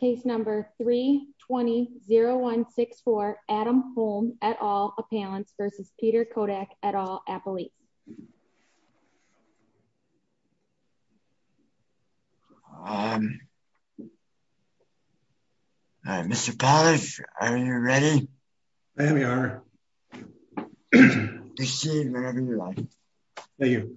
Case number three 20 0 1 6 4 Adam home at all. Appellants versus Peter Kodak at all. Appalachia. Mr. Pollard, are you ready? I am. We are. Thank you.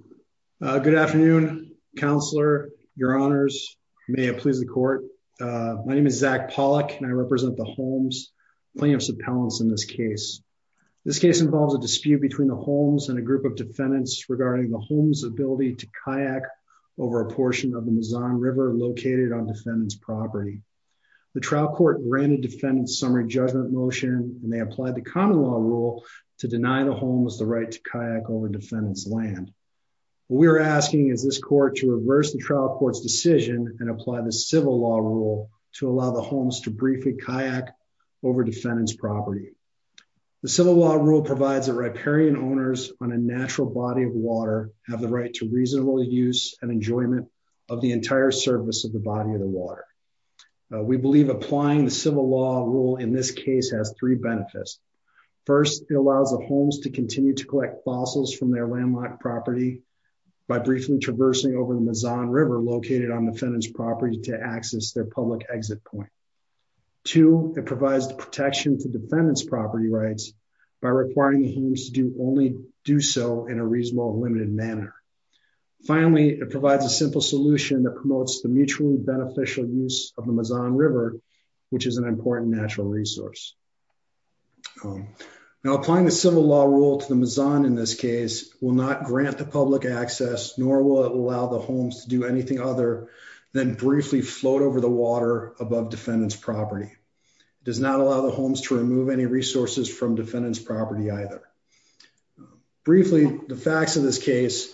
Uh, good afternoon, counselor, your honors. May it please the court. Uh, my name is Zach Pollack and I represent the homes claim subpoenas in this case. This case involves a dispute between the homes and a group of defendants regarding the home's ability to kayak over a portion of the Mazon river located on defendant's property. The trial court granted defendants summary judgment motion, and they applied the common law rule to deny the home was the right to kayak over defendants land. We're asking is this court to reverse the trial court's decision and apply the civil law rule to allow the homes to briefly kayak over defendant's property. The civil law rule provides a riparian owners on a natural body of water, have the right to reasonable use and enjoyment of the entire surface of the body of the water, we believe applying the civil law rule in this case has three benefits. First, it allows the homes to continue to collect fossils from their landlocked property by briefly traversing over the Mazon river located on defendant's to access their public exit point. Two, it provides the protection for defendant's property rights by requiring homes to do only do so in a reasonable limited manner. Finally, it provides a simple solution that promotes the mutually beneficial use of the Mazon river, which is an important natural resource. Now applying the civil law rule to the Mazon in this case will not grant the homes to do anything other than briefly float over the water above defendant's property does not allow the homes to remove any resources from defendant's property either briefly, the facts of this case,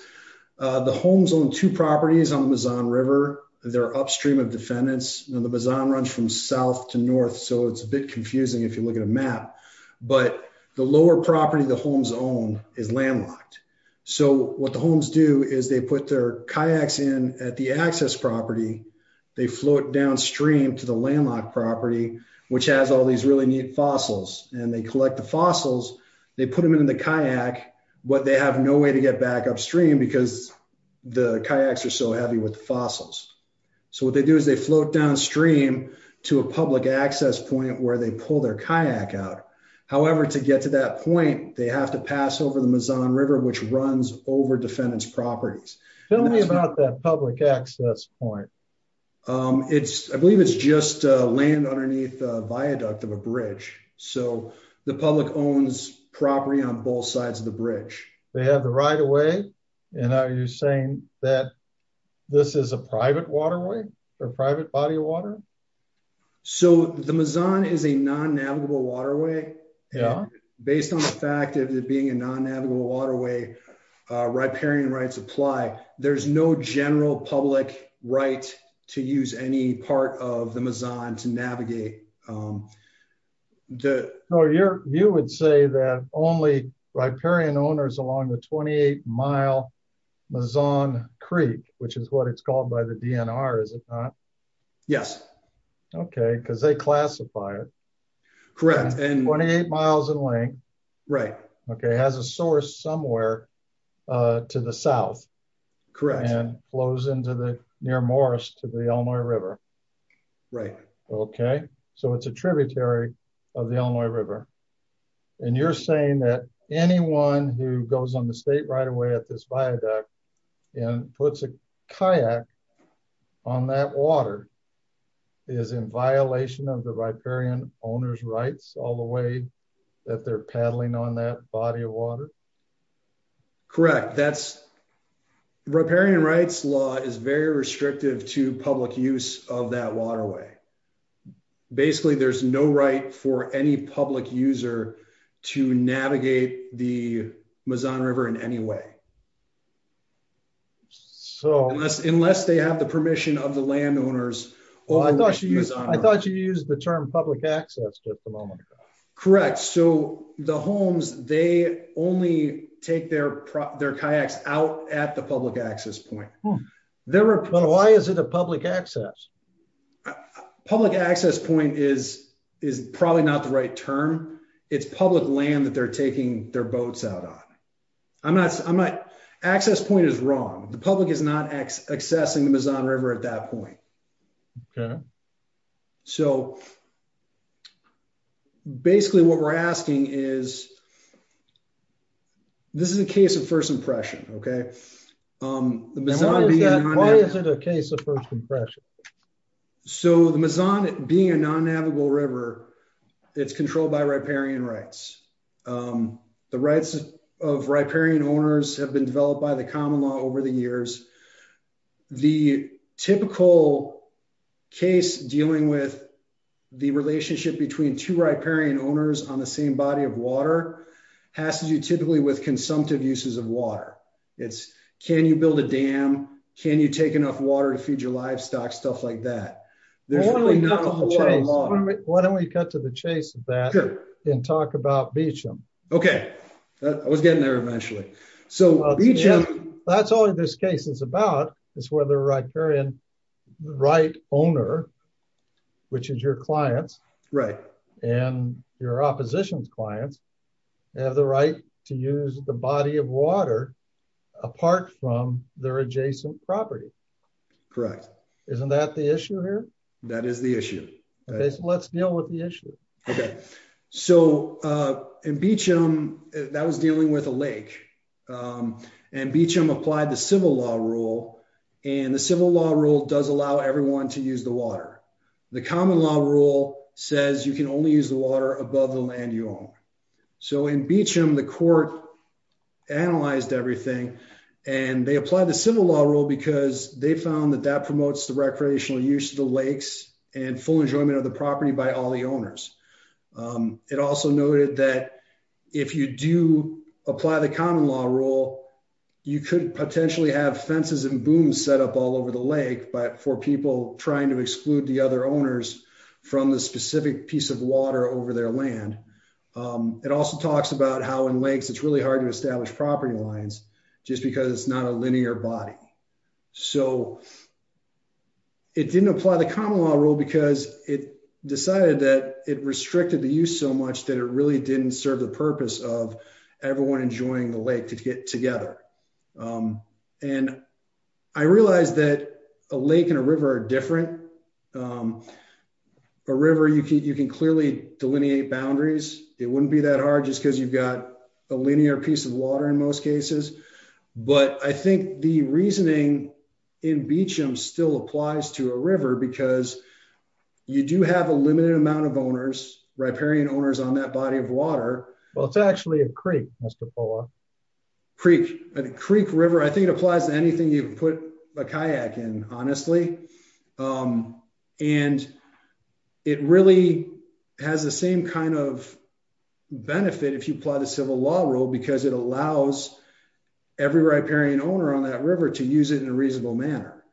uh, the homes on two properties on the Mazon river, they're upstream of defendants and the Mazon runs from south to north. So it's a bit confusing if you look at a map, but the lower property, the homes own is landlocked. So what the homes do is they put their kayaks in at the access property. They float downstream to the landlocked property, which has all these really neat fossils and they collect the fossils. They put them into the kayak, but they have no way to get back upstream because the kayaks are so heavy with fossils. So what they do is they float downstream to a public access point where they pull their kayak out. However, to get to that point, they have to pass over the Mazon river, which runs over defendant's properties. Tell me about that public access point. Um, it's, I believe it's just a land underneath a viaduct of a bridge. So the public owns property on both sides of the bridge. They have the right away. And are you saying that this is a private waterway or private body of water? So the Mazon is a non navigable waterway based on the fact of it being a non navigable waterway, uh, riparian rights apply. There's no general public right to use any part of the Mazon to navigate. Um, the, No, you're, you would say that only riparian owners along the 28 mile Mazon Creek, which is what it's called by the DNR. Is it not? Yes. Okay. Cause they classify it. Correct. And 28 miles in length. Right. Okay. It has a source somewhere, uh, to the South. Correct. And flows into the near Morris to the Illinois river. Right. Okay. So it's a tributary of the Illinois river. And you're saying that anyone who goes on the state right away at this viaduct and puts a kayak on that water is in violation of the riparian owner's rights all the way that they're paddling on that body of water. Correct. That's riparian rights law is very restrictive to public use of that waterway. Basically there's no right for any public user to navigate the Mazon river in any way. So unless, unless they have the permission of the landowners, well, I thought you used, I thought you used the term public access at the moment. Correct. So the homes, they only take their, their kayaks out at the public access point. There were, but why is it a public access? Public access point is, is probably not the right term. It's public land that they're taking their boats out on. I'm not, I'm not access point is wrong. The public is not accessing the Mazon river at that point. Okay. So basically what we're asking is this is a case of first impression. Okay. Why is it a case of first impression? So the Mazon being a non-navigable river, it's controlled by riparian rights. The rights of riparian owners have been developed by the common law over the years. The typical case dealing with the relationship between two riparian owners on the same body of water has to do typically with consumptive uses of water. It's, can you build a dam? Can you take enough water to feed your livestock? Stuff like that. There's really not a whole lot of water. Why don't we cut to the chase of that and talk about Beecham. Okay. I was getting there eventually. So that's all this case is about is where the riparian right owner, which is your clients and your opposition's clients have the right to use the body of water apart from their adjacent property. Correct. Isn't that the issue here? That is the issue. Okay. So let's deal with the issue. Okay. So in Beecham that was dealing with a lake and Beecham applied the civil law rule and the civil law rule does allow everyone to use the water. The common law rule says you can only use the water above the land you own. So in Beecham, the court analyzed everything and they applied the civil law rule because they found that that promotes the recreational use of the lakes and full enjoyment of the property by all the owners. Um, it also noted that if you do apply the common law rule, you could potentially have fences and booms set up all over the lake, but for people trying to exclude the other owners from the specific piece of water over their land, um, it also talks about how in lakes, it's really hard to establish property lines just because it's not a linear body. So it didn't apply the common law rule because it decided that it restricted the use so much that it really didn't serve the purpose of everyone enjoying the lake to get together. Um, and I realized that a lake and a river are different, um, a river. You can, you can clearly delineate boundaries. It wouldn't be that hard just cause you've got a linear piece of water in most cases. But I think the reasoning in Beecham still applies to a river because you do have a limited amount of owners, riparian owners on that body of water. Well, it's actually a Creek. Creek Creek river. I think it applies to anything you put a kayak in honestly. Um, and it really has the same kind of benefit if you apply the civil law rule, because it allows every riparian owner on that river to use it in a reasonable manner.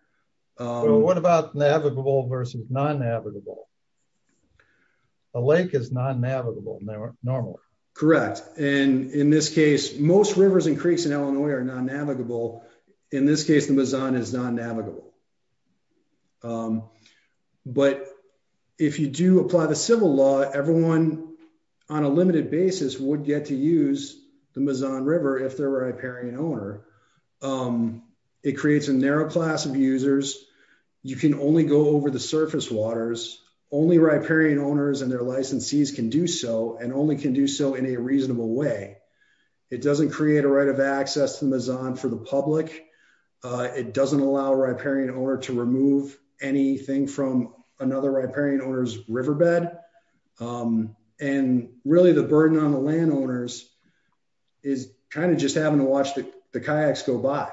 Um, what about navigable versus non navigable? A lake is non navigable. Normally. Correct. And in this case, most rivers and creeks in Illinois are non navigable. In this case, the Mazon is non navigable. Um, but if you do apply the civil law, everyone on a limited basis would get to use the Mazon river if their riparian owner, um, it creates a narrow class of users, you can only go over the surface waters, only riparian owners and their licensees can do so, and only can do so in a reasonable way, it doesn't create a right of access to the Mazon for the public. Uh, it doesn't allow a riparian owner to remove anything from another riparian owner's riverbed. Um, and really the burden on the landowners is kind of just having to watch the kayaks go by.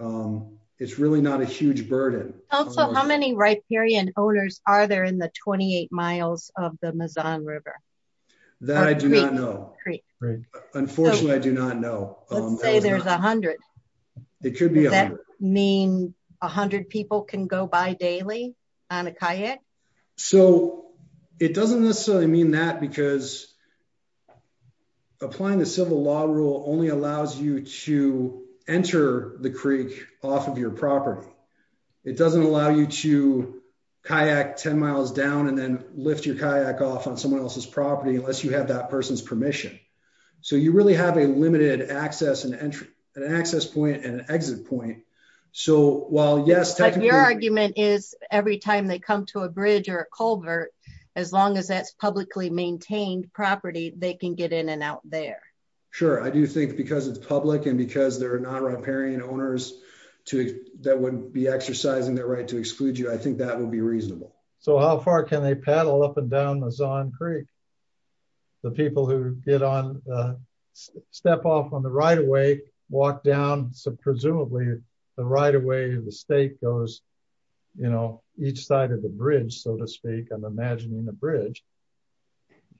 Um, it's really not a huge burden. Also, how many riparian owners are there in the 28 miles of the Mazon river? That I do not know. Unfortunately, I do not know. Um, let's say there's a hundred. It could be a hundred people can go by daily on a kayak. So it doesn't necessarily mean that because applying the civil law rule only allows you to enter the creek off of your property. It doesn't allow you to kayak 10 miles down and then lift your kayak off on someone else's property, unless you have that person's permission. So you really have a limited access and entry and an access point and an exit point. So while yes, your argument is every time they come to a bridge or a culvert, as long as that's publicly maintained property, they can get in and out there. Sure. I do think because it's public and because there are non-riparian owners to that wouldn't be exercising their right to exclude you. I think that would be reasonable. So how far can they paddle up and down the Mazon creek? The people who get on, uh, step off on the right away, walk down some, the right away, the state goes, you know, each side of the bridge, so to speak, I'm imagining the bridge.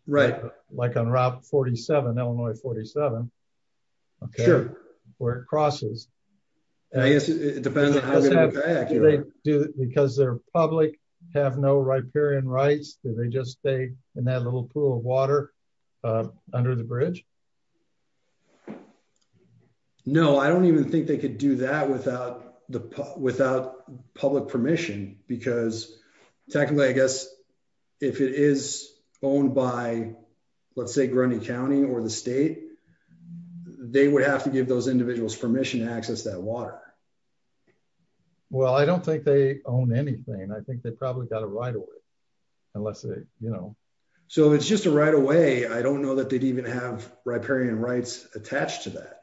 Right. Like on route 47, Illinois 47. Okay. Where it crosses. And I guess it depends on how they do it. Because they're public, have no riparian rights. Do they just stay in that little pool of water, uh, under the bridge? No, I don't even think they could do that without the P without public permission, because technically, I guess if it is owned by let's say Grundy County or the state, they would have to give those individuals permission to access that water. Well, I don't think they own anything. I think they probably got a right away unless they, you know, so it's just a right away, I don't know that they'd even have permission to do that. Riparian rights attached to that.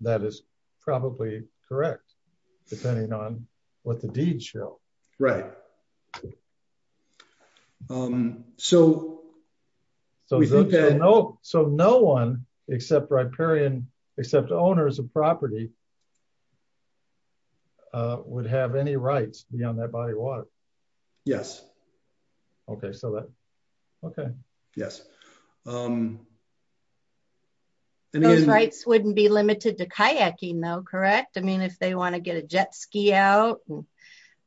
That is probably correct, depending on what the deed show. Right. Um, so, so we think that no, so no one except riparian, except owners of property, uh, would have any rights beyond that body of water? Yes. Okay. So that, okay. Yes. Um, and those rights wouldn't be limited to kayaking though, correct? I mean, if they want to get a jet ski out,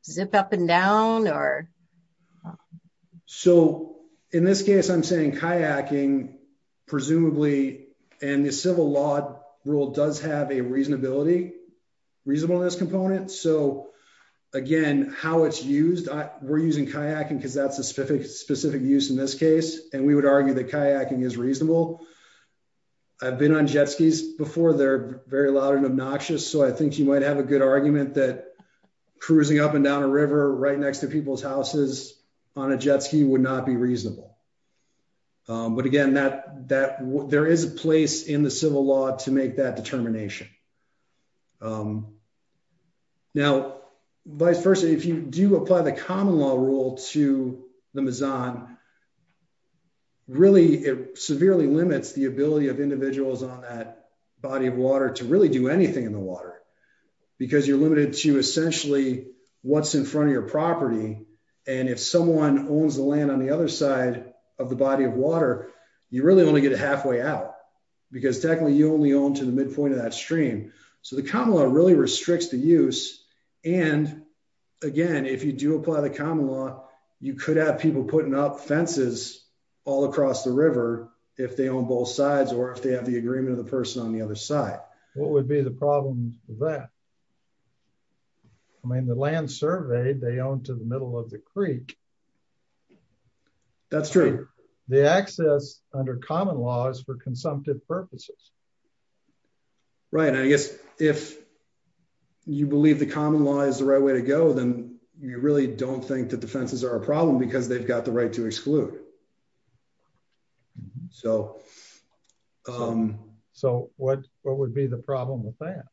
zip up and down or. So in this case, I'm saying kayaking presumably, and the civil law rule does have a reasonability, reasonableness component. So again, how it's used, we're using kayaking cause that's a specific, specific use in this case. And we would argue that kayaking is reasonable. I've been on jet skis before. They're very loud and obnoxious. So I think you might have a good argument that cruising up and down a river right next to people's houses on a jet ski would not be reasonable. Um, but again, that, that w there is a place in the civil law to make that determination. Now, vice versa, if you do apply the common law rule to the Mazan, really, it severely limits the ability of individuals on that body of water to really do anything in the water because you're limited to essentially what's in front of your property, and if someone owns the land on the other side of the body of water, you really only get a halfway out because technically you only own to the midpoint of that stream. So the common law really restricts the use. And again, if you do apply the common law, you could have people putting up fences all across the river if they own both sides, or if they have the agreement of the person on the other side. What would be the problem with that? I mean, the land surveyed, they own to the middle of the Creek. That's true. The access under common laws for consumptive purposes. Right. And I guess if you believe the common law is the right way to go, then you really don't think that the fences are a problem because they've got the right to exclude. So, um, so what, what would be the problem with that?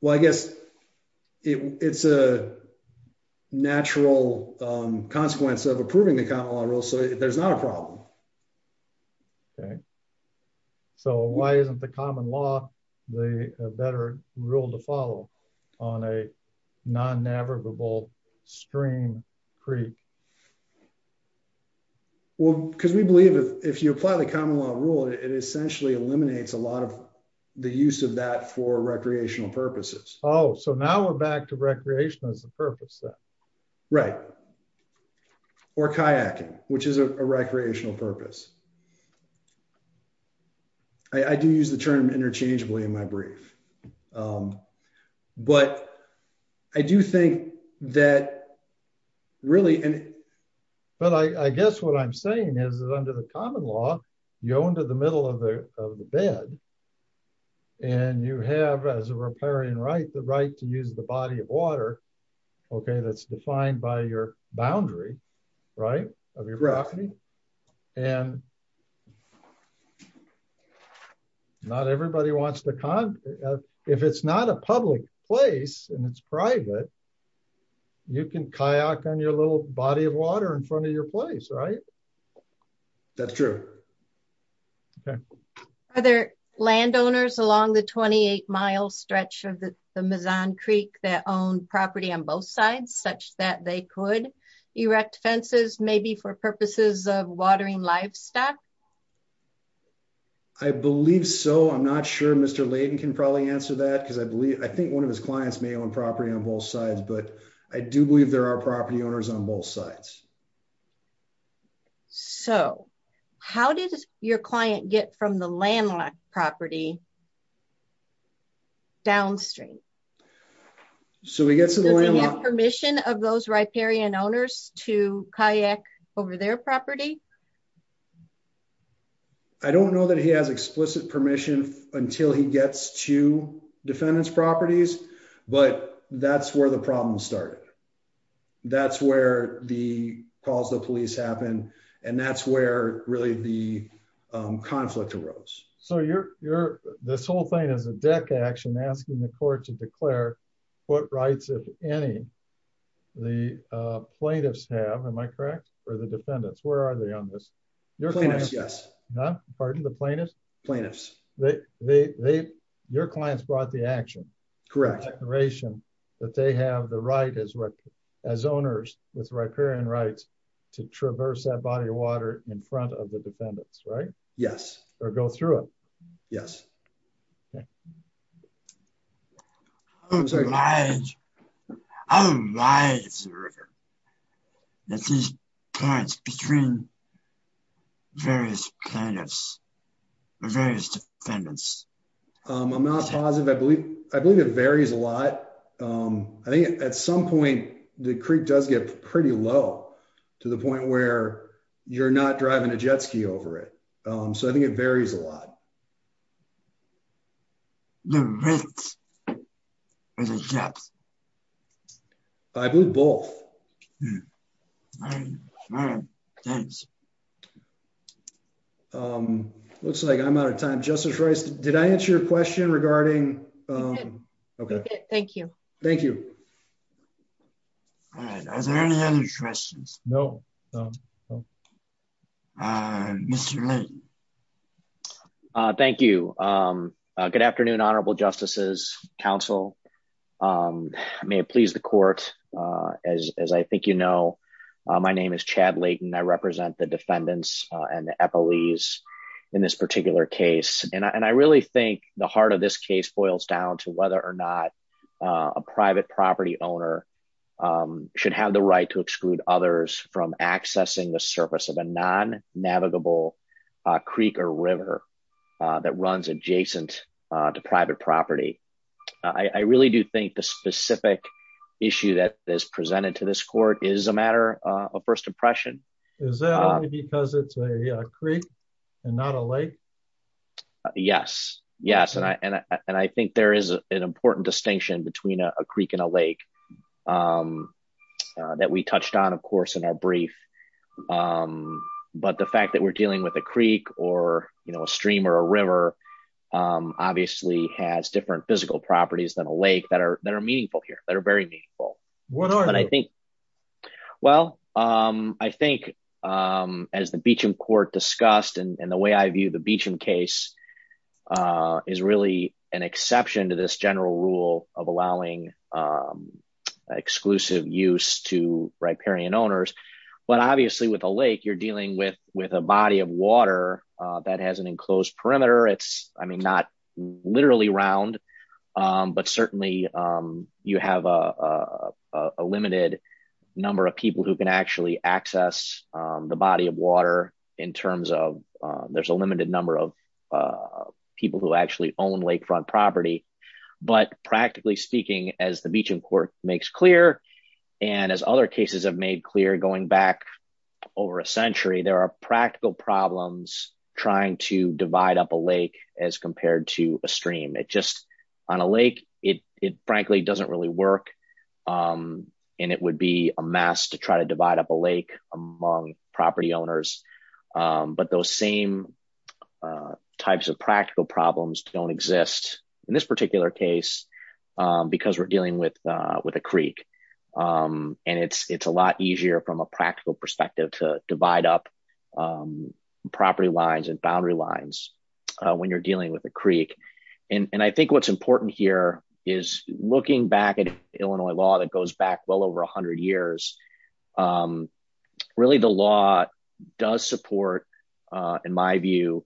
Well, I guess it's a natural consequence of approving the common law rule. So there's not a problem. Okay. So why isn't the common law, the better rule to follow on a non-navigable stream Creek? Well, cause we believe if you apply the common law rule, it essentially eliminates a lot of the use of that for recreational purposes. Oh, so now we're back to recreation as a purpose. Right. Or kayaking, which is a recreational purpose. I do use the term interchangeably in my brief. Um, but I do think that really, but I guess what I'm saying is that under the common law, you own to the middle of the, of the bed and you have as a repairing right, the right to use the body of water. Okay. That's defined by your boundary, right. I mean, and not everybody wants the con if it's not a public place and it's private, you can kayak on your little body of water in front of your place. Right. That's true. Are there landowners along the 28 mile stretch of the Mazon Creek that own property on both sides such that they could erect fences maybe for purposes of watering livestock? I believe so. I'm not sure Mr. Layden can probably answer that. Cause I believe, I think one of his clients may own property on both sides, but I do believe there are property owners on both sides. So how did your client get from the landlocked property downstream? So we get to the landlocked permission of those riparian owners to kayak over their property. I don't know that he has explicit permission until he gets to defendants properties, but that's where the problem started. That's where the calls the police happen. And that's where really the, um, conflict arose. So you're, you're, this whole thing is a deck action asking the court to declare what rights, if any, the plaintiffs have, am I correct? Or the defendants? Where are they on this? You're a plaintiff. Yes. No, pardon? The plaintiff plaintiffs, they, they, they, your clients brought the action correction that they have the right as well as owners with riparian rights to traverse that body of water in front of the defendants, right? Yes. Or go through it. Yes. Okay. I'm sorry. How wide is the river? That these parts between various plaintiffs or various defendants? Um, I'm not positive. I believe, I believe it varies a lot. Um, I think at some point the creek does get pretty low to the point where you're not driving a jet ski over it. Um, so I think it varies a lot. Um, I believe both, um, looks like I'm out of time. Justice Rice, did I answer your question regarding, um, okay. Thank you. Thank you. All right. Are there any other questions? No. Uh, Mr. Uh, thank you. Um, uh, good afternoon, honorable justices council. Um, may it please the court, uh, as, as I think, you know, uh, my name is Chad Layton, I represent the defendants and the FLEs in this particular case. And I, and I really think the heart of this case boils down to whether or not, uh, a private property owner, um, should have the right to exclude others from a non-navigable, uh, creek or river, uh, that runs adjacent, uh, to private property. I really do think the specific issue that is presented to this court is a matter of first impression. Is that because it's a creek and not a lake? Yes. Yes. And I, and I, and I think there is an important distinction between a creek and a lake, um, uh, that we touched on, of course, in our brief. Um, but the fact that we're dealing with a creek or, you know, a stream or a river, um, obviously has different physical properties than a lake that are, that are meaningful here that are very meaningful, but I think. Well, um, I think, um, as the Beecham court discussed and the way I view the Beecham case, uh, is really an exception to this general rule of allowing, um, exclusive use to riparian owners, but obviously with a lake, you're dealing with, with a body of water, uh, that has an enclosed perimeter. It's, I mean, not literally round. Um, but certainly, um, you have, uh, a limited number of people who can actually access, um, the body of water in terms of, uh, there's a limited number of, uh, people who actually own lakefront property, but practically speaking as the Beecham court makes clear, and as other cases have made clear going back over a century, there are practical problems trying to divide up a lake as compared to a stream. It just on a lake, it, it frankly doesn't really work. Um, and it would be a mess to try to divide up a lake among property owners, um, but those same, uh, types of practical problems don't exist. In this particular case, um, because we're dealing with, uh, with a creek. Um, and it's, it's a lot easier from a practical perspective to divide up, um, property lines and boundary lines, uh, when you're dealing with a creek. And I think what's important here is looking back at Illinois law that goes back well over a hundred years. Um, really the law does support, uh, in my view,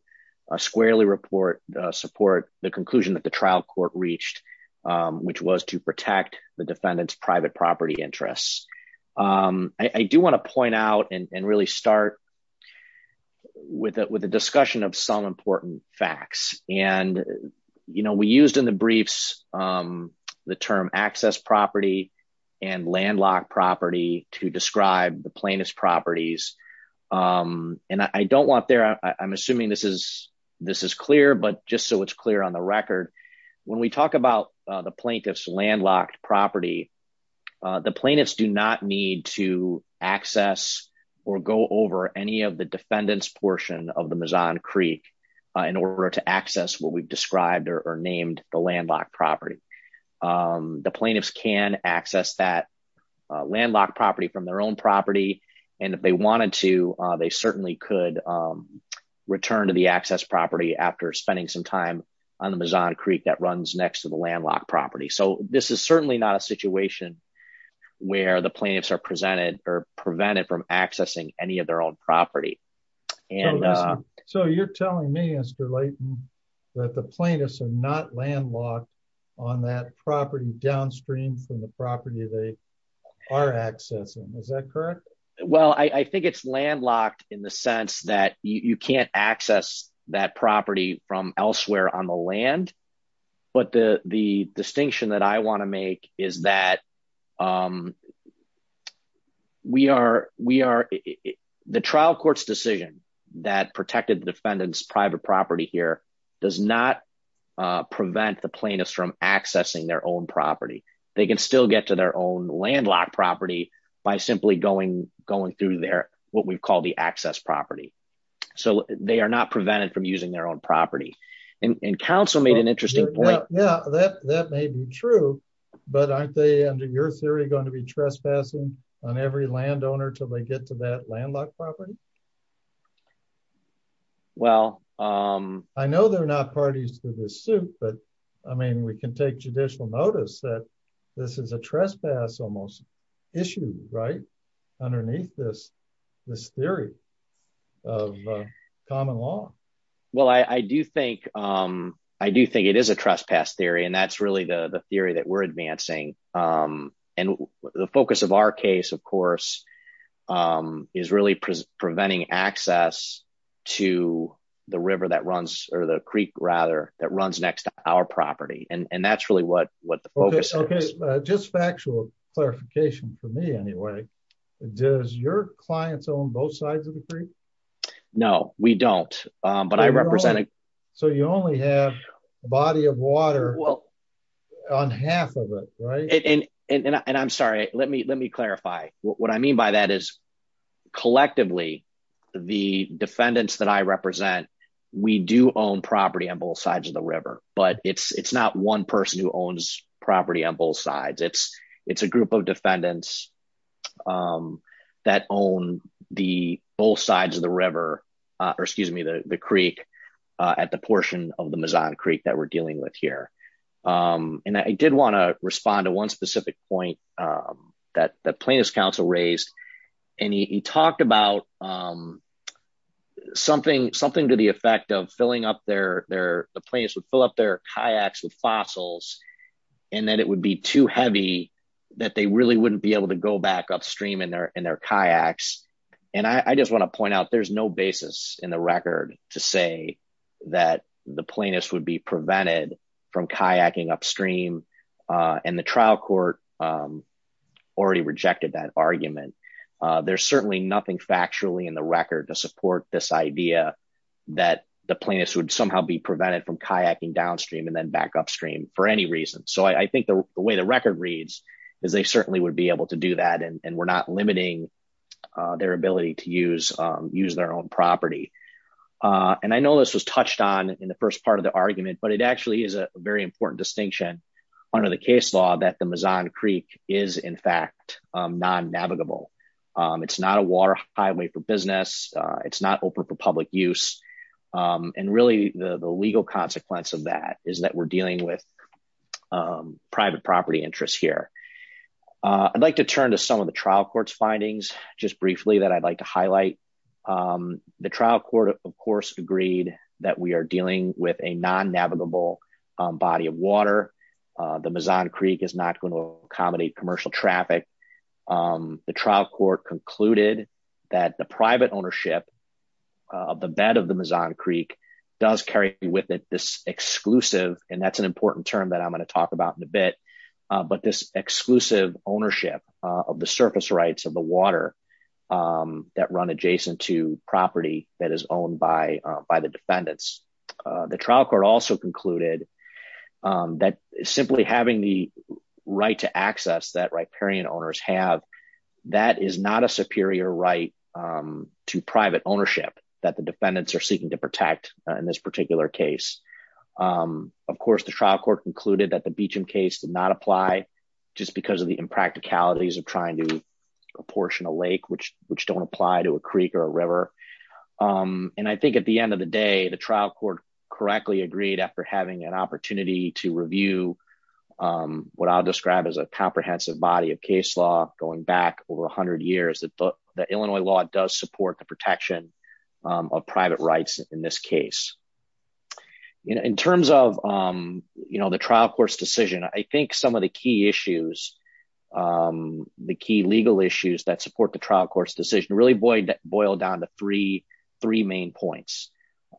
a squarely report, uh, support the conclusion that the trial court reached, um, which was to protect the defendant's private property interests. Um, I do want to point out and really start with a, with a discussion of some important facts and, you know, we used in the briefs, um, the term access property and landlocked property to describe the plaintiff's properties. Um, and I don't want there, I'm assuming this is, this is clear, but just so it's clear on the record, when we talk about, uh, the plaintiff's landlocked property. Uh, the plaintiffs do not need to access or go over any of the defendants portion of the Mazon Creek, uh, in order to access what we've described or named the landlocked property. Um, the plaintiffs can access that, uh, landlocked property from their own property, and if they wanted to, uh, they certainly could, um, return to the access property after spending some time on the Mazon Creek that runs next to the landlocked property. So this is certainly not a situation where the plaintiffs are presented or prevented from accessing any of their own property and, uh, so you're telling me, Mr. Layton, that the plaintiffs are not landlocked on that property downstream from the property they are accessing. Is that correct? Well, I think it's landlocked in the sense that you can't access that property from elsewhere on the land. But the, the distinction that I want to make is that, um, we are, we are, the trial court's decision that protected the defendant's private property here does not, uh, prevent the plaintiffs from accessing their own property. They can still get to their own landlocked property by simply going, going through their, what we've called the access property. So they are not prevented from using their own property. And counsel made an interesting point. Yeah, that, that may be true, but aren't they under your theory going to be trespassing on every landowner till they get to that landlocked property? Well, um, I know they're not parties to this suit, but I mean, we can take judicial notice that this is a trespass almost issue, right? Underneath this, this theory of common law. Well, I do think, um, I do think it is a trespass theory and that's really the theory that we're advancing. Um, and the focus of our case, of course, um, is really preventing access to the river that runs or the Creek rather that runs next to our property. And that's really what, what the focus is. Just factual clarification for me anyway, does your clients own both sides of the creek? No, we don't. Um, but I represented, so you only have a body of water on half of it, right? And I'm sorry, let me, let me clarify what I mean by that is collectively the defendants that I represent, we do own property on both sides of the river, but it's, it's not one person who owns property on both sides. It's, it's a group of defendants. Um, that own the both sides of the river, uh, or excuse me, the, the Creek, uh, at the portion of the Mazon Creek that we're dealing with here. Um, and I did want to respond to one specific point, um, that the plaintiff's counsel raised and he talked about, um, something, something to the effect of filling up their, their, the plaintiffs would fill up their kayaks with fossils. And then it would be too heavy that they really wouldn't be able to go back upstream in their, in their kayaks. And I just want to point out, there's no basis in the record to say that the plaintiffs would be prevented from kayaking upstream, uh, and the trial court, um, already rejected that argument. Uh, there's certainly nothing factually in the record to support this idea. That the plaintiffs would somehow be prevented from kayaking downstream and then back upstream for any reason. So I think the way the record reads is they certainly would be able to do that. And we're not limiting their ability to use, um, use their own property. Uh, and I know this was touched on in the first part of the argument, but it actually is a very important distinction under the case law that the Mazon Creek is in fact, um, non navigable. Um, it's not a water highway for business. It's not open for public use. Um, and really the legal consequence of that is that we're dealing with, um, private property interests here. Uh, I'd like to turn to some of the trial court's findings just briefly that I'd like to highlight. Um, the trial court of course agreed that we are dealing with a non navigable, um, body of water. Uh, the Mazon Creek is not going to accommodate commercial traffic. Um, the trial court concluded that the private ownership of the bed of the Mazon Creek does carry with it this exclusive, and that's an important term that I'm going to talk about in a bit. Uh, but this exclusive ownership of the surface rights of the water, um, that run adjacent to property that is owned by, uh, by the defendants. Uh, the trial court also concluded, um, that simply having the right to have, that is not a superior right, um, to private ownership that the defendants are seeking to protect in this particular case. Um, of course the trial court concluded that the Beecham case did not apply. Just because of the impracticalities of trying to apportion a lake, which, which don't apply to a Creek or a river. Um, and I think at the end of the day, the trial court correctly agreed after having an opportunity to review, um, what I'll describe as a comprehensive body of case law, going back over a hundred years, that the Illinois law does support the protection, um, of private rights in this case. You know, in terms of, um, you know, the trial court's decision, I think some of the key issues, um, the key legal issues that support the trial court's decision really boil down to three, three main points.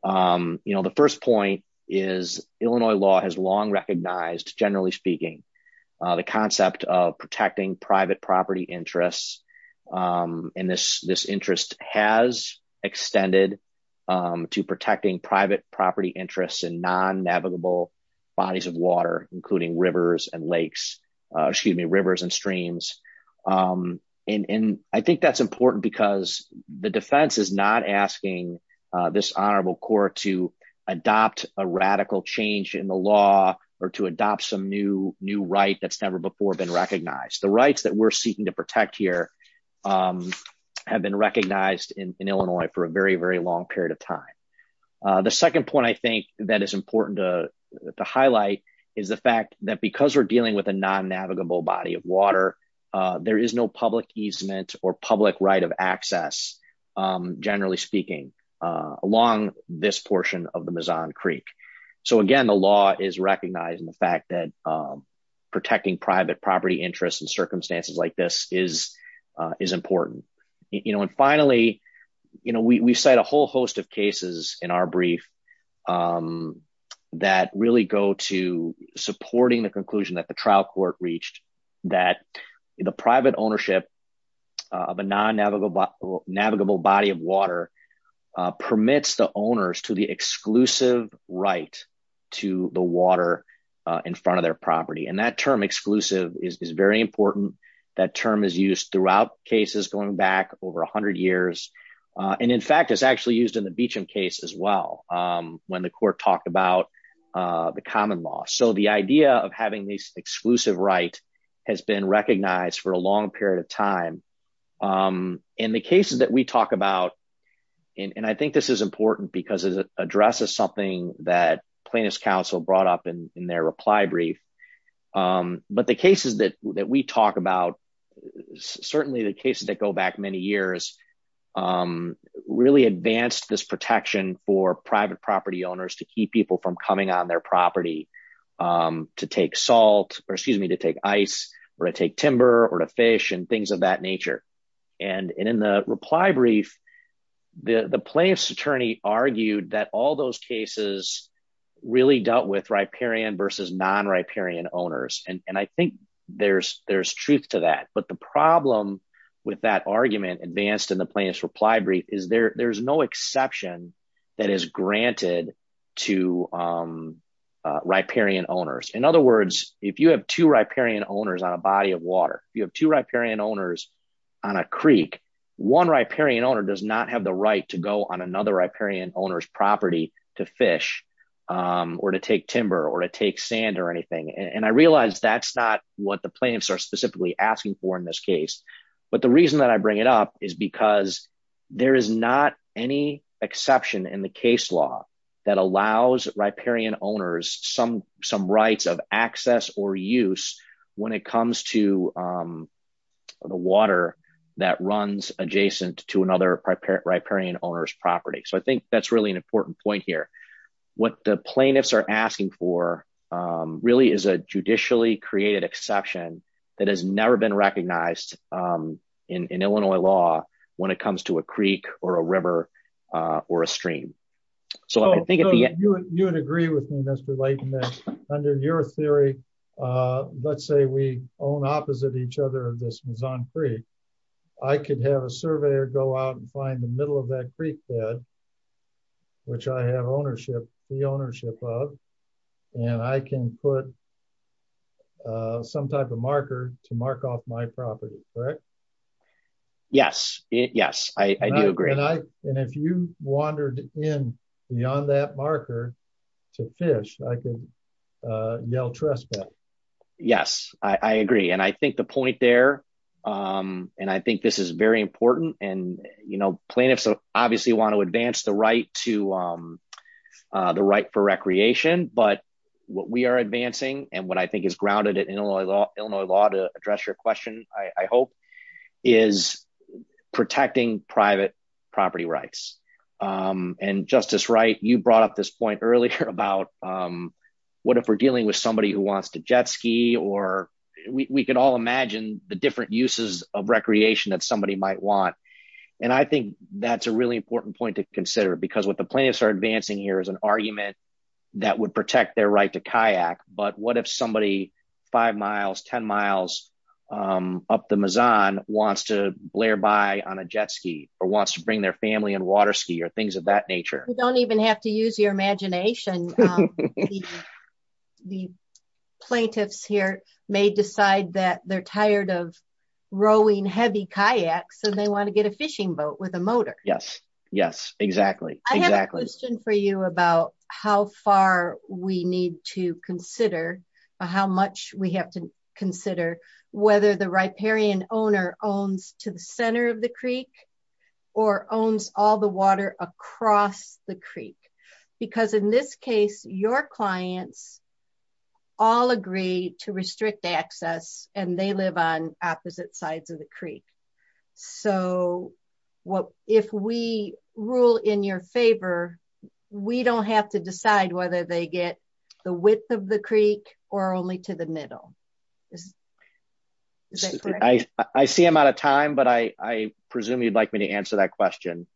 Um, you know, the first point is Illinois law has long recognized, generally speaking, uh, the concept of protecting private property interests. Um, and this, this interest has extended, um, to protecting private property interests and non navigable bodies of water, including rivers and lakes, uh, excuse me, rivers and streams. Um, and, and I think that's important because the defense is not asking, uh, this honorable court to adopt a radical change in the law or to adopt some new, new right that's never before been recognized the rights that we're seeking to protect here, um, have been recognized in Illinois for a very, very long period of time. Uh, the second point I think that is important to highlight is the fact that because we're dealing with a non navigable body of water, uh, there is no public easement or public right of access, um, generally speaking, uh, along this portion of the Mazon Creek. So again, the law is recognizing the fact that, um, protecting private property interests and circumstances like this is, uh, is important. You know, and finally, you know, we, we cite a whole host of cases in our brief, um, that really go to supporting the conclusion that the trial court reached that the private ownership of a non navigable, navigable body of owners to the exclusive right to the water, uh, in front of their property. And that term exclusive is, is very important. That term is used throughout cases going back over a hundred years. Uh, and in fact, it's actually used in the Beecham case as well. Um, when the court talked about, uh, the common law. So the idea of having these exclusive right has been recognized for a long period of time. Um, and the cases that we talk about, and I think this is important because it addresses something that plaintiff's counsel brought up in their reply brief. Um, but the cases that, that we talk about, certainly the cases that go back many years, um, really advanced this protection for private property owners to keep people from coming on their property, um, to take salt or excuse me, to take ice or to take timber or to fish and things of that nature. And, and in the reply brief, the plaintiff's attorney argued that all those cases really dealt with riparian versus non-riparian owners. And I think there's, there's truth to that, but the problem with that argument advanced in the plaintiff's reply brief is there, there's no exception that is granted to, um, uh, riparian owners. In other words, if you have two riparian owners on a body of water, you have two riparian owners on a Creek. One riparian owner does not have the right to go on another riparian owner's property to fish, um, or to take timber or to take sand or anything. And I realized that's not what the plaintiffs are specifically asking for in this case, but the reason that I bring it up is because there is not any exception in the case law that allows riparian owners, some, some rights of access or use when it comes to, um, the water that runs adjacent to another riparian owner's property. So I think that's really an important point here. What the plaintiffs are asking for, um, really is a judicially created exception that has never been recognized, um, in, in Illinois law when it comes to a Creek or a river, uh, or a stream. So I think at the end, you would agree with me, Mr. Layton, that under your theory, uh, let's say we own opposite each other of this Maison Creek. I could have a surveyor go out and find the middle of that Creek bed, which I have ownership, the ownership of, and I can put, uh, some type of marker to mark off my property, correct? Yes. Yes. I do agree. And I, and if you wandered in beyond that marker to fish, I can, uh, yell trust. Yes, I agree. And I think the point there, um, and I think this is very important and, you know, plaintiffs obviously want to advance the right to, um, uh, the right for recreation, but what we are advancing and what I think is grounded in Illinois law, Illinois law to address your question, I hope is protecting private property rights. Um, and justice, right. You brought up this point earlier about, um, what if we're dealing with somebody who wants to jet ski or we can all imagine the different uses of recreation that somebody might want. And I think that's a really important point to consider because what the plaintiffs are advancing here is an argument that would protect their right to kayak, but what if somebody five miles, 10 miles, um, up the Mazon wants to blare by on a jet ski or wants to bring their family and water ski or things of that nature. You don't even have to use your imagination. The plaintiffs here may decide that they're tired of rowing heavy kayaks. So they want to get a fishing boat with a motor. Yes. Yes, exactly. I have a question for you about how far we need to consider how much we have to consider whether the riparian owner owns to the center of the Creek or owns all the water across the Creek, because in this case, your clients all agree to restrict access and they live on opposite sides of the Creek. So what, if we rule in your favor, we don't have to decide whether they get the width of the Creek or only to the middle is I, I see I'm out of time, but I, I presume you'd like me to answer that question.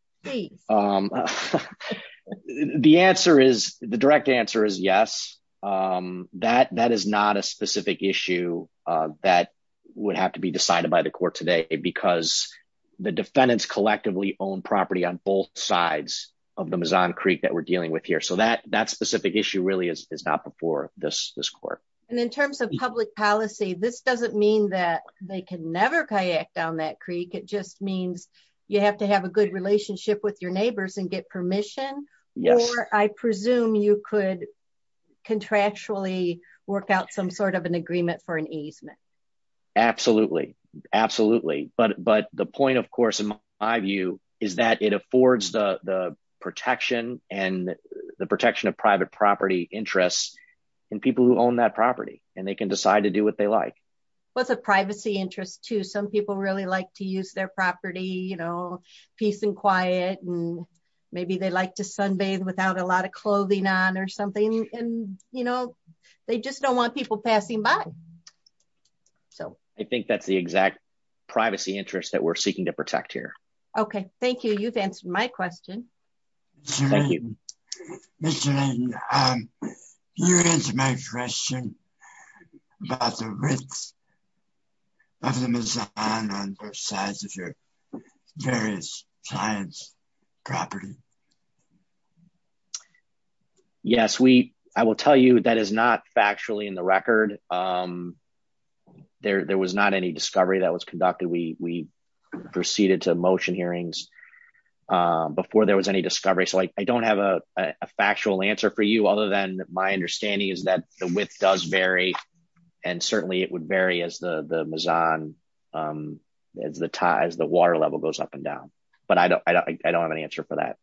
Um, the answer is the direct answer is yes. Um, that, that is not a specific issue, uh, that would have to be decided by the court today because the defendants collectively own property on both sides of the Mazon Creek that we're dealing with here. So that that specific issue really is, is not before this, this court. And in terms of public policy, this doesn't mean that they can never kayak down that Creek. It just means you have to have a good relationship with your neighbors and get permission. I presume you could contractually work out some sort of an agreement for an easement. Absolutely. Absolutely. But, but the point of course, in my view is that it affords the protection and the protection of private property interests and people who own that property and they can decide to do what they like. What's a privacy interest to some people really like to use their property, you know, peace and quiet, and maybe they like to sunbathe without a lot of clothing on or something, and, you know, they just don't want people passing by. So I think that's the exact privacy interest that we're seeking to protect here. Okay. Thank you. You've answered my question. Mr. Layden, you answered my question about the risks of the Mazon on both sides of your various client's property. Yes, we, I will tell you that is not factually in the record. There, there was not any discovery that was conducted. We, we proceeded to motion hearings before there was any discovery. So like, I don't have a factual answer for you, other than my understanding is that the width does vary. And certainly it would vary as the, the Mazon as the ties, the water level goes up and down. But I don't, I don't, I don't have an answer for that.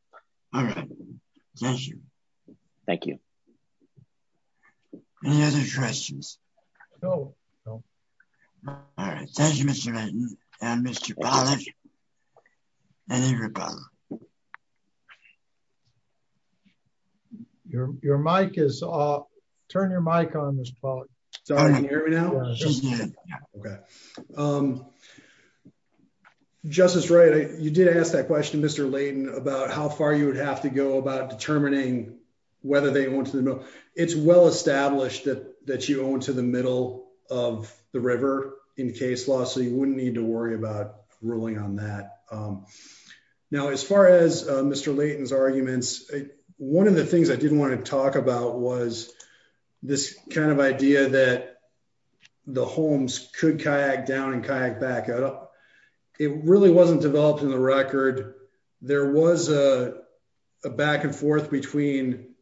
Thank you. Any other questions? No, no. All right. Thank you, Mr. Layden and Mr. Pollack and everybody. Your, your mic is off. Turn your mic on, Mr. Pollack. Sorry. Can you hear me now? Okay. Um, Justice Wright, you did ask that question, Mr. Layden, about how far you would have to go about determining whether they want to know. It's well-established that, that you own to the middle of the river in case loss. So you wouldn't need to worry about ruling on that. Um, now as far as, uh, Mr. Layden's arguments, one of the things I didn't want to talk about was this kind of idea that the homes could kayak down and kayak back up. It really wasn't developed in the record. There was, uh, a back and forth between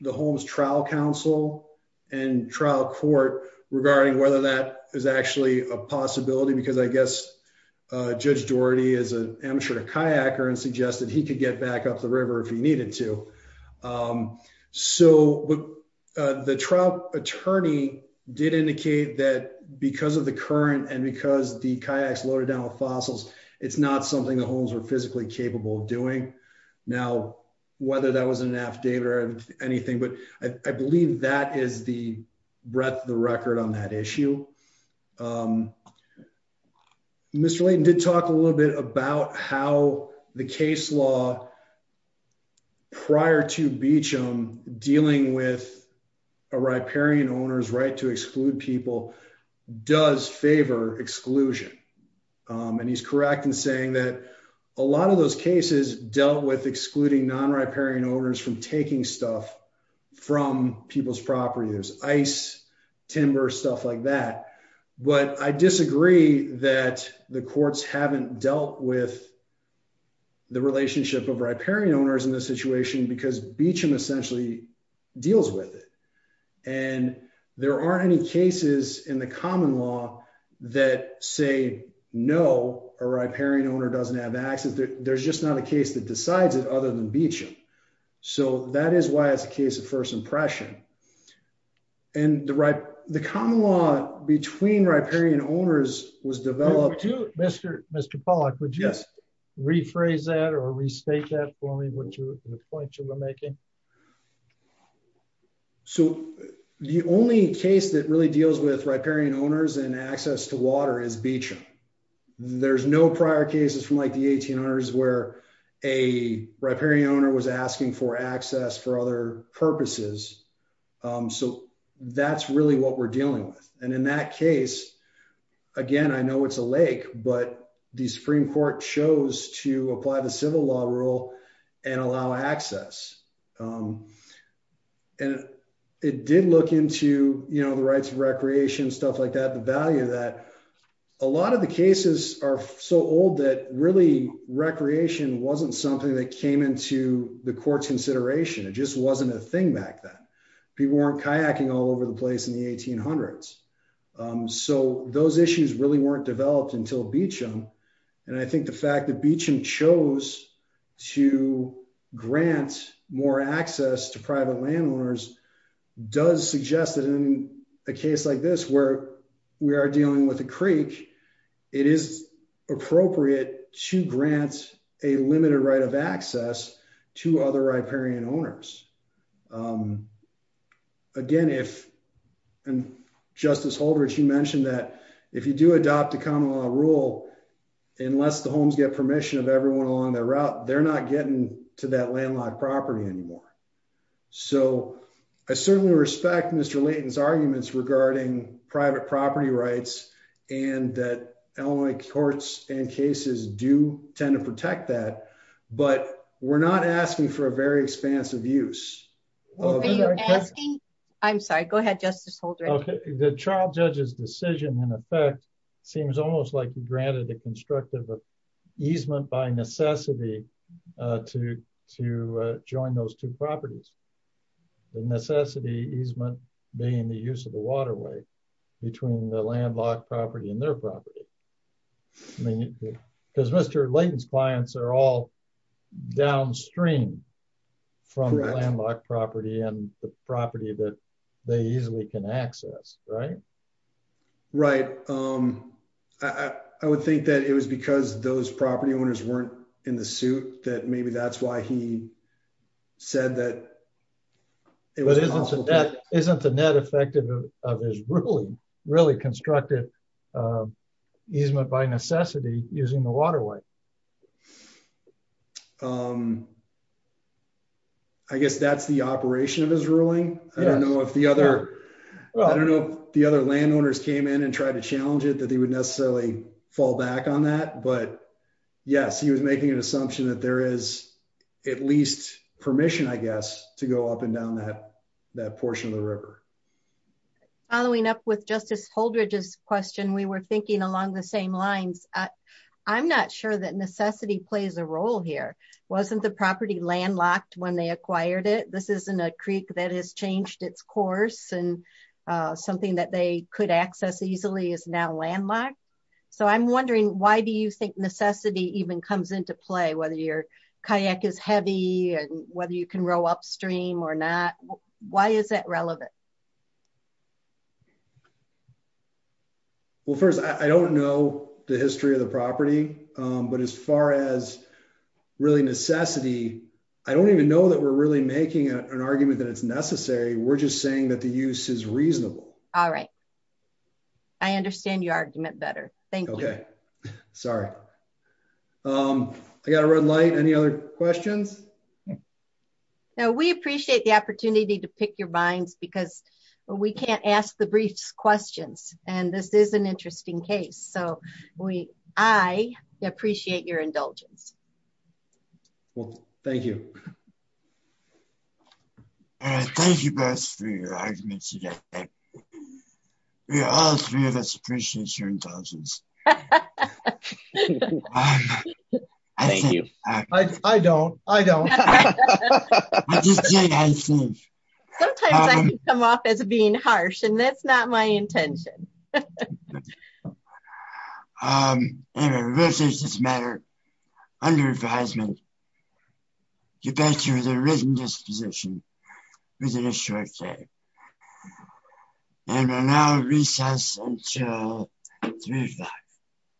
the home's trial council and trial court regarding whether that is actually a possibility, because I guess, uh, judge Doherty is an amateur kayaker and suggested he could get back up the river if he needed to. Um, so, uh, the trial attorney did indicate that because of the current and because the kayaks loaded down with fossils, it's not something the homes were physically capable of doing. Now, whether that was an affidavit or anything, but I believe that is the breadth of the record on that issue. Um, Mr. Layden did talk a little bit about how the case law prior to Beecham dealing with a riparian owner's right to exclude people does favor exclusion. Um, and he's correct in saying that a lot of those cases dealt with excluding non-riparian owners from taking stuff from people's property, there's ice, timber, stuff like that, but I disagree that the courts haven't dealt with. The relationship of riparian owners in this situation, because Beecham essentially deals with it. And there aren't any cases in the common law that say, no, a riparian owner doesn't have access. There's just not a case that decides it other than Beecham. So that is why it's a case of first impression and the right, the common law between riparian owners was developed to Mr. Mr. Pollack, would you rephrase that or restate that for me? What's your point you were making? So the only case that really deals with riparian owners and access to water is Beecham. There's no prior cases from like the 1800s where a riparian owner was asking for access for other purposes. Um, so that's really what we're dealing with. And in that case, again, I know it's a lake, but the Supreme court chose to apply the civil law rule and allow access. Um, and it did look into, you know, the rights of recreation, stuff like that. The value of that, a lot of the cases are so old that really recreation wasn't something that came into the court's consideration. It just wasn't a thing back then. People weren't kayaking all over the place in the 1800s. Um, so those issues really weren't developed until Beecham. And I think the fact that Beecham chose to grant more access to private landowners does suggest that in a case like this, where we are dealing with a creek, it is appropriate to grant a limited right of access to other riparian owners, um, again, if, and justice holders, you mentioned that if you do adopt the common law rule, unless the homes get permission of everyone along the route, they're not getting to that landlocked property anymore. So I certainly respect Mr. Layton's arguments regarding private property rights and that Illinois courts and cases do tend to protect that, but we're not asking for a very expansive use. I'm sorry. Go ahead. Justice. Okay. The trial judge's decision in effect seems almost like you granted the constructive easement by necessity, uh, to, to, uh, join those two properties. The necessity easement being the use of the waterway between the landlocked property and their property. I mean, because Mr. Layton's clients are all downstream from landlocked property and the right. Right. Um, I, I would think that it was because those property owners weren't in the suit that maybe that's why he said that it wasn't, isn't the net effective of his really, really constructive, uh, easement by necessity using the waterway. Um, I guess that's the operation of his ruling. I don't know if the other, I don't know if the other landowners came in and tried to challenge it, that they would necessarily fall back on that, but yes, he was making an assumption that there is at least permission, I guess, to go up and down that, that portion of the river. Following up with justice Holdridge's question. We were thinking along the same lines. I'm not sure that necessity plays a role here. Wasn't the property landlocked when they acquired it? This isn't a Creek that has changed its course. And, uh, something that they could access easily is now landlocked. So I'm wondering, why do you think necessity even comes into play? Whether your kayak is heavy and whether you can row upstream or not, why is that relevant? Well, first, I don't know the history of the property. Um, but as far as really necessity, I don't even know that we're really making an argument that it's necessary. We're just saying that the use is reasonable. All right. I understand your argument better. Thank you. Sorry. Um, I got a red light. Any other questions? No, we appreciate the opportunity to pick your minds because we can't ask the briefs questions. And this is an interesting case. So we, I appreciate your indulgence. Well, thank you. All right. Thank you guys for your arguments. We all three of us appreciate your indulgence. I don't, I don't. Sometimes I come off as being harsh and that's not my intention. Um, and we will change this matter under advisement. Get back to the written disposition within a short day. And we'll now recess until three o'clock.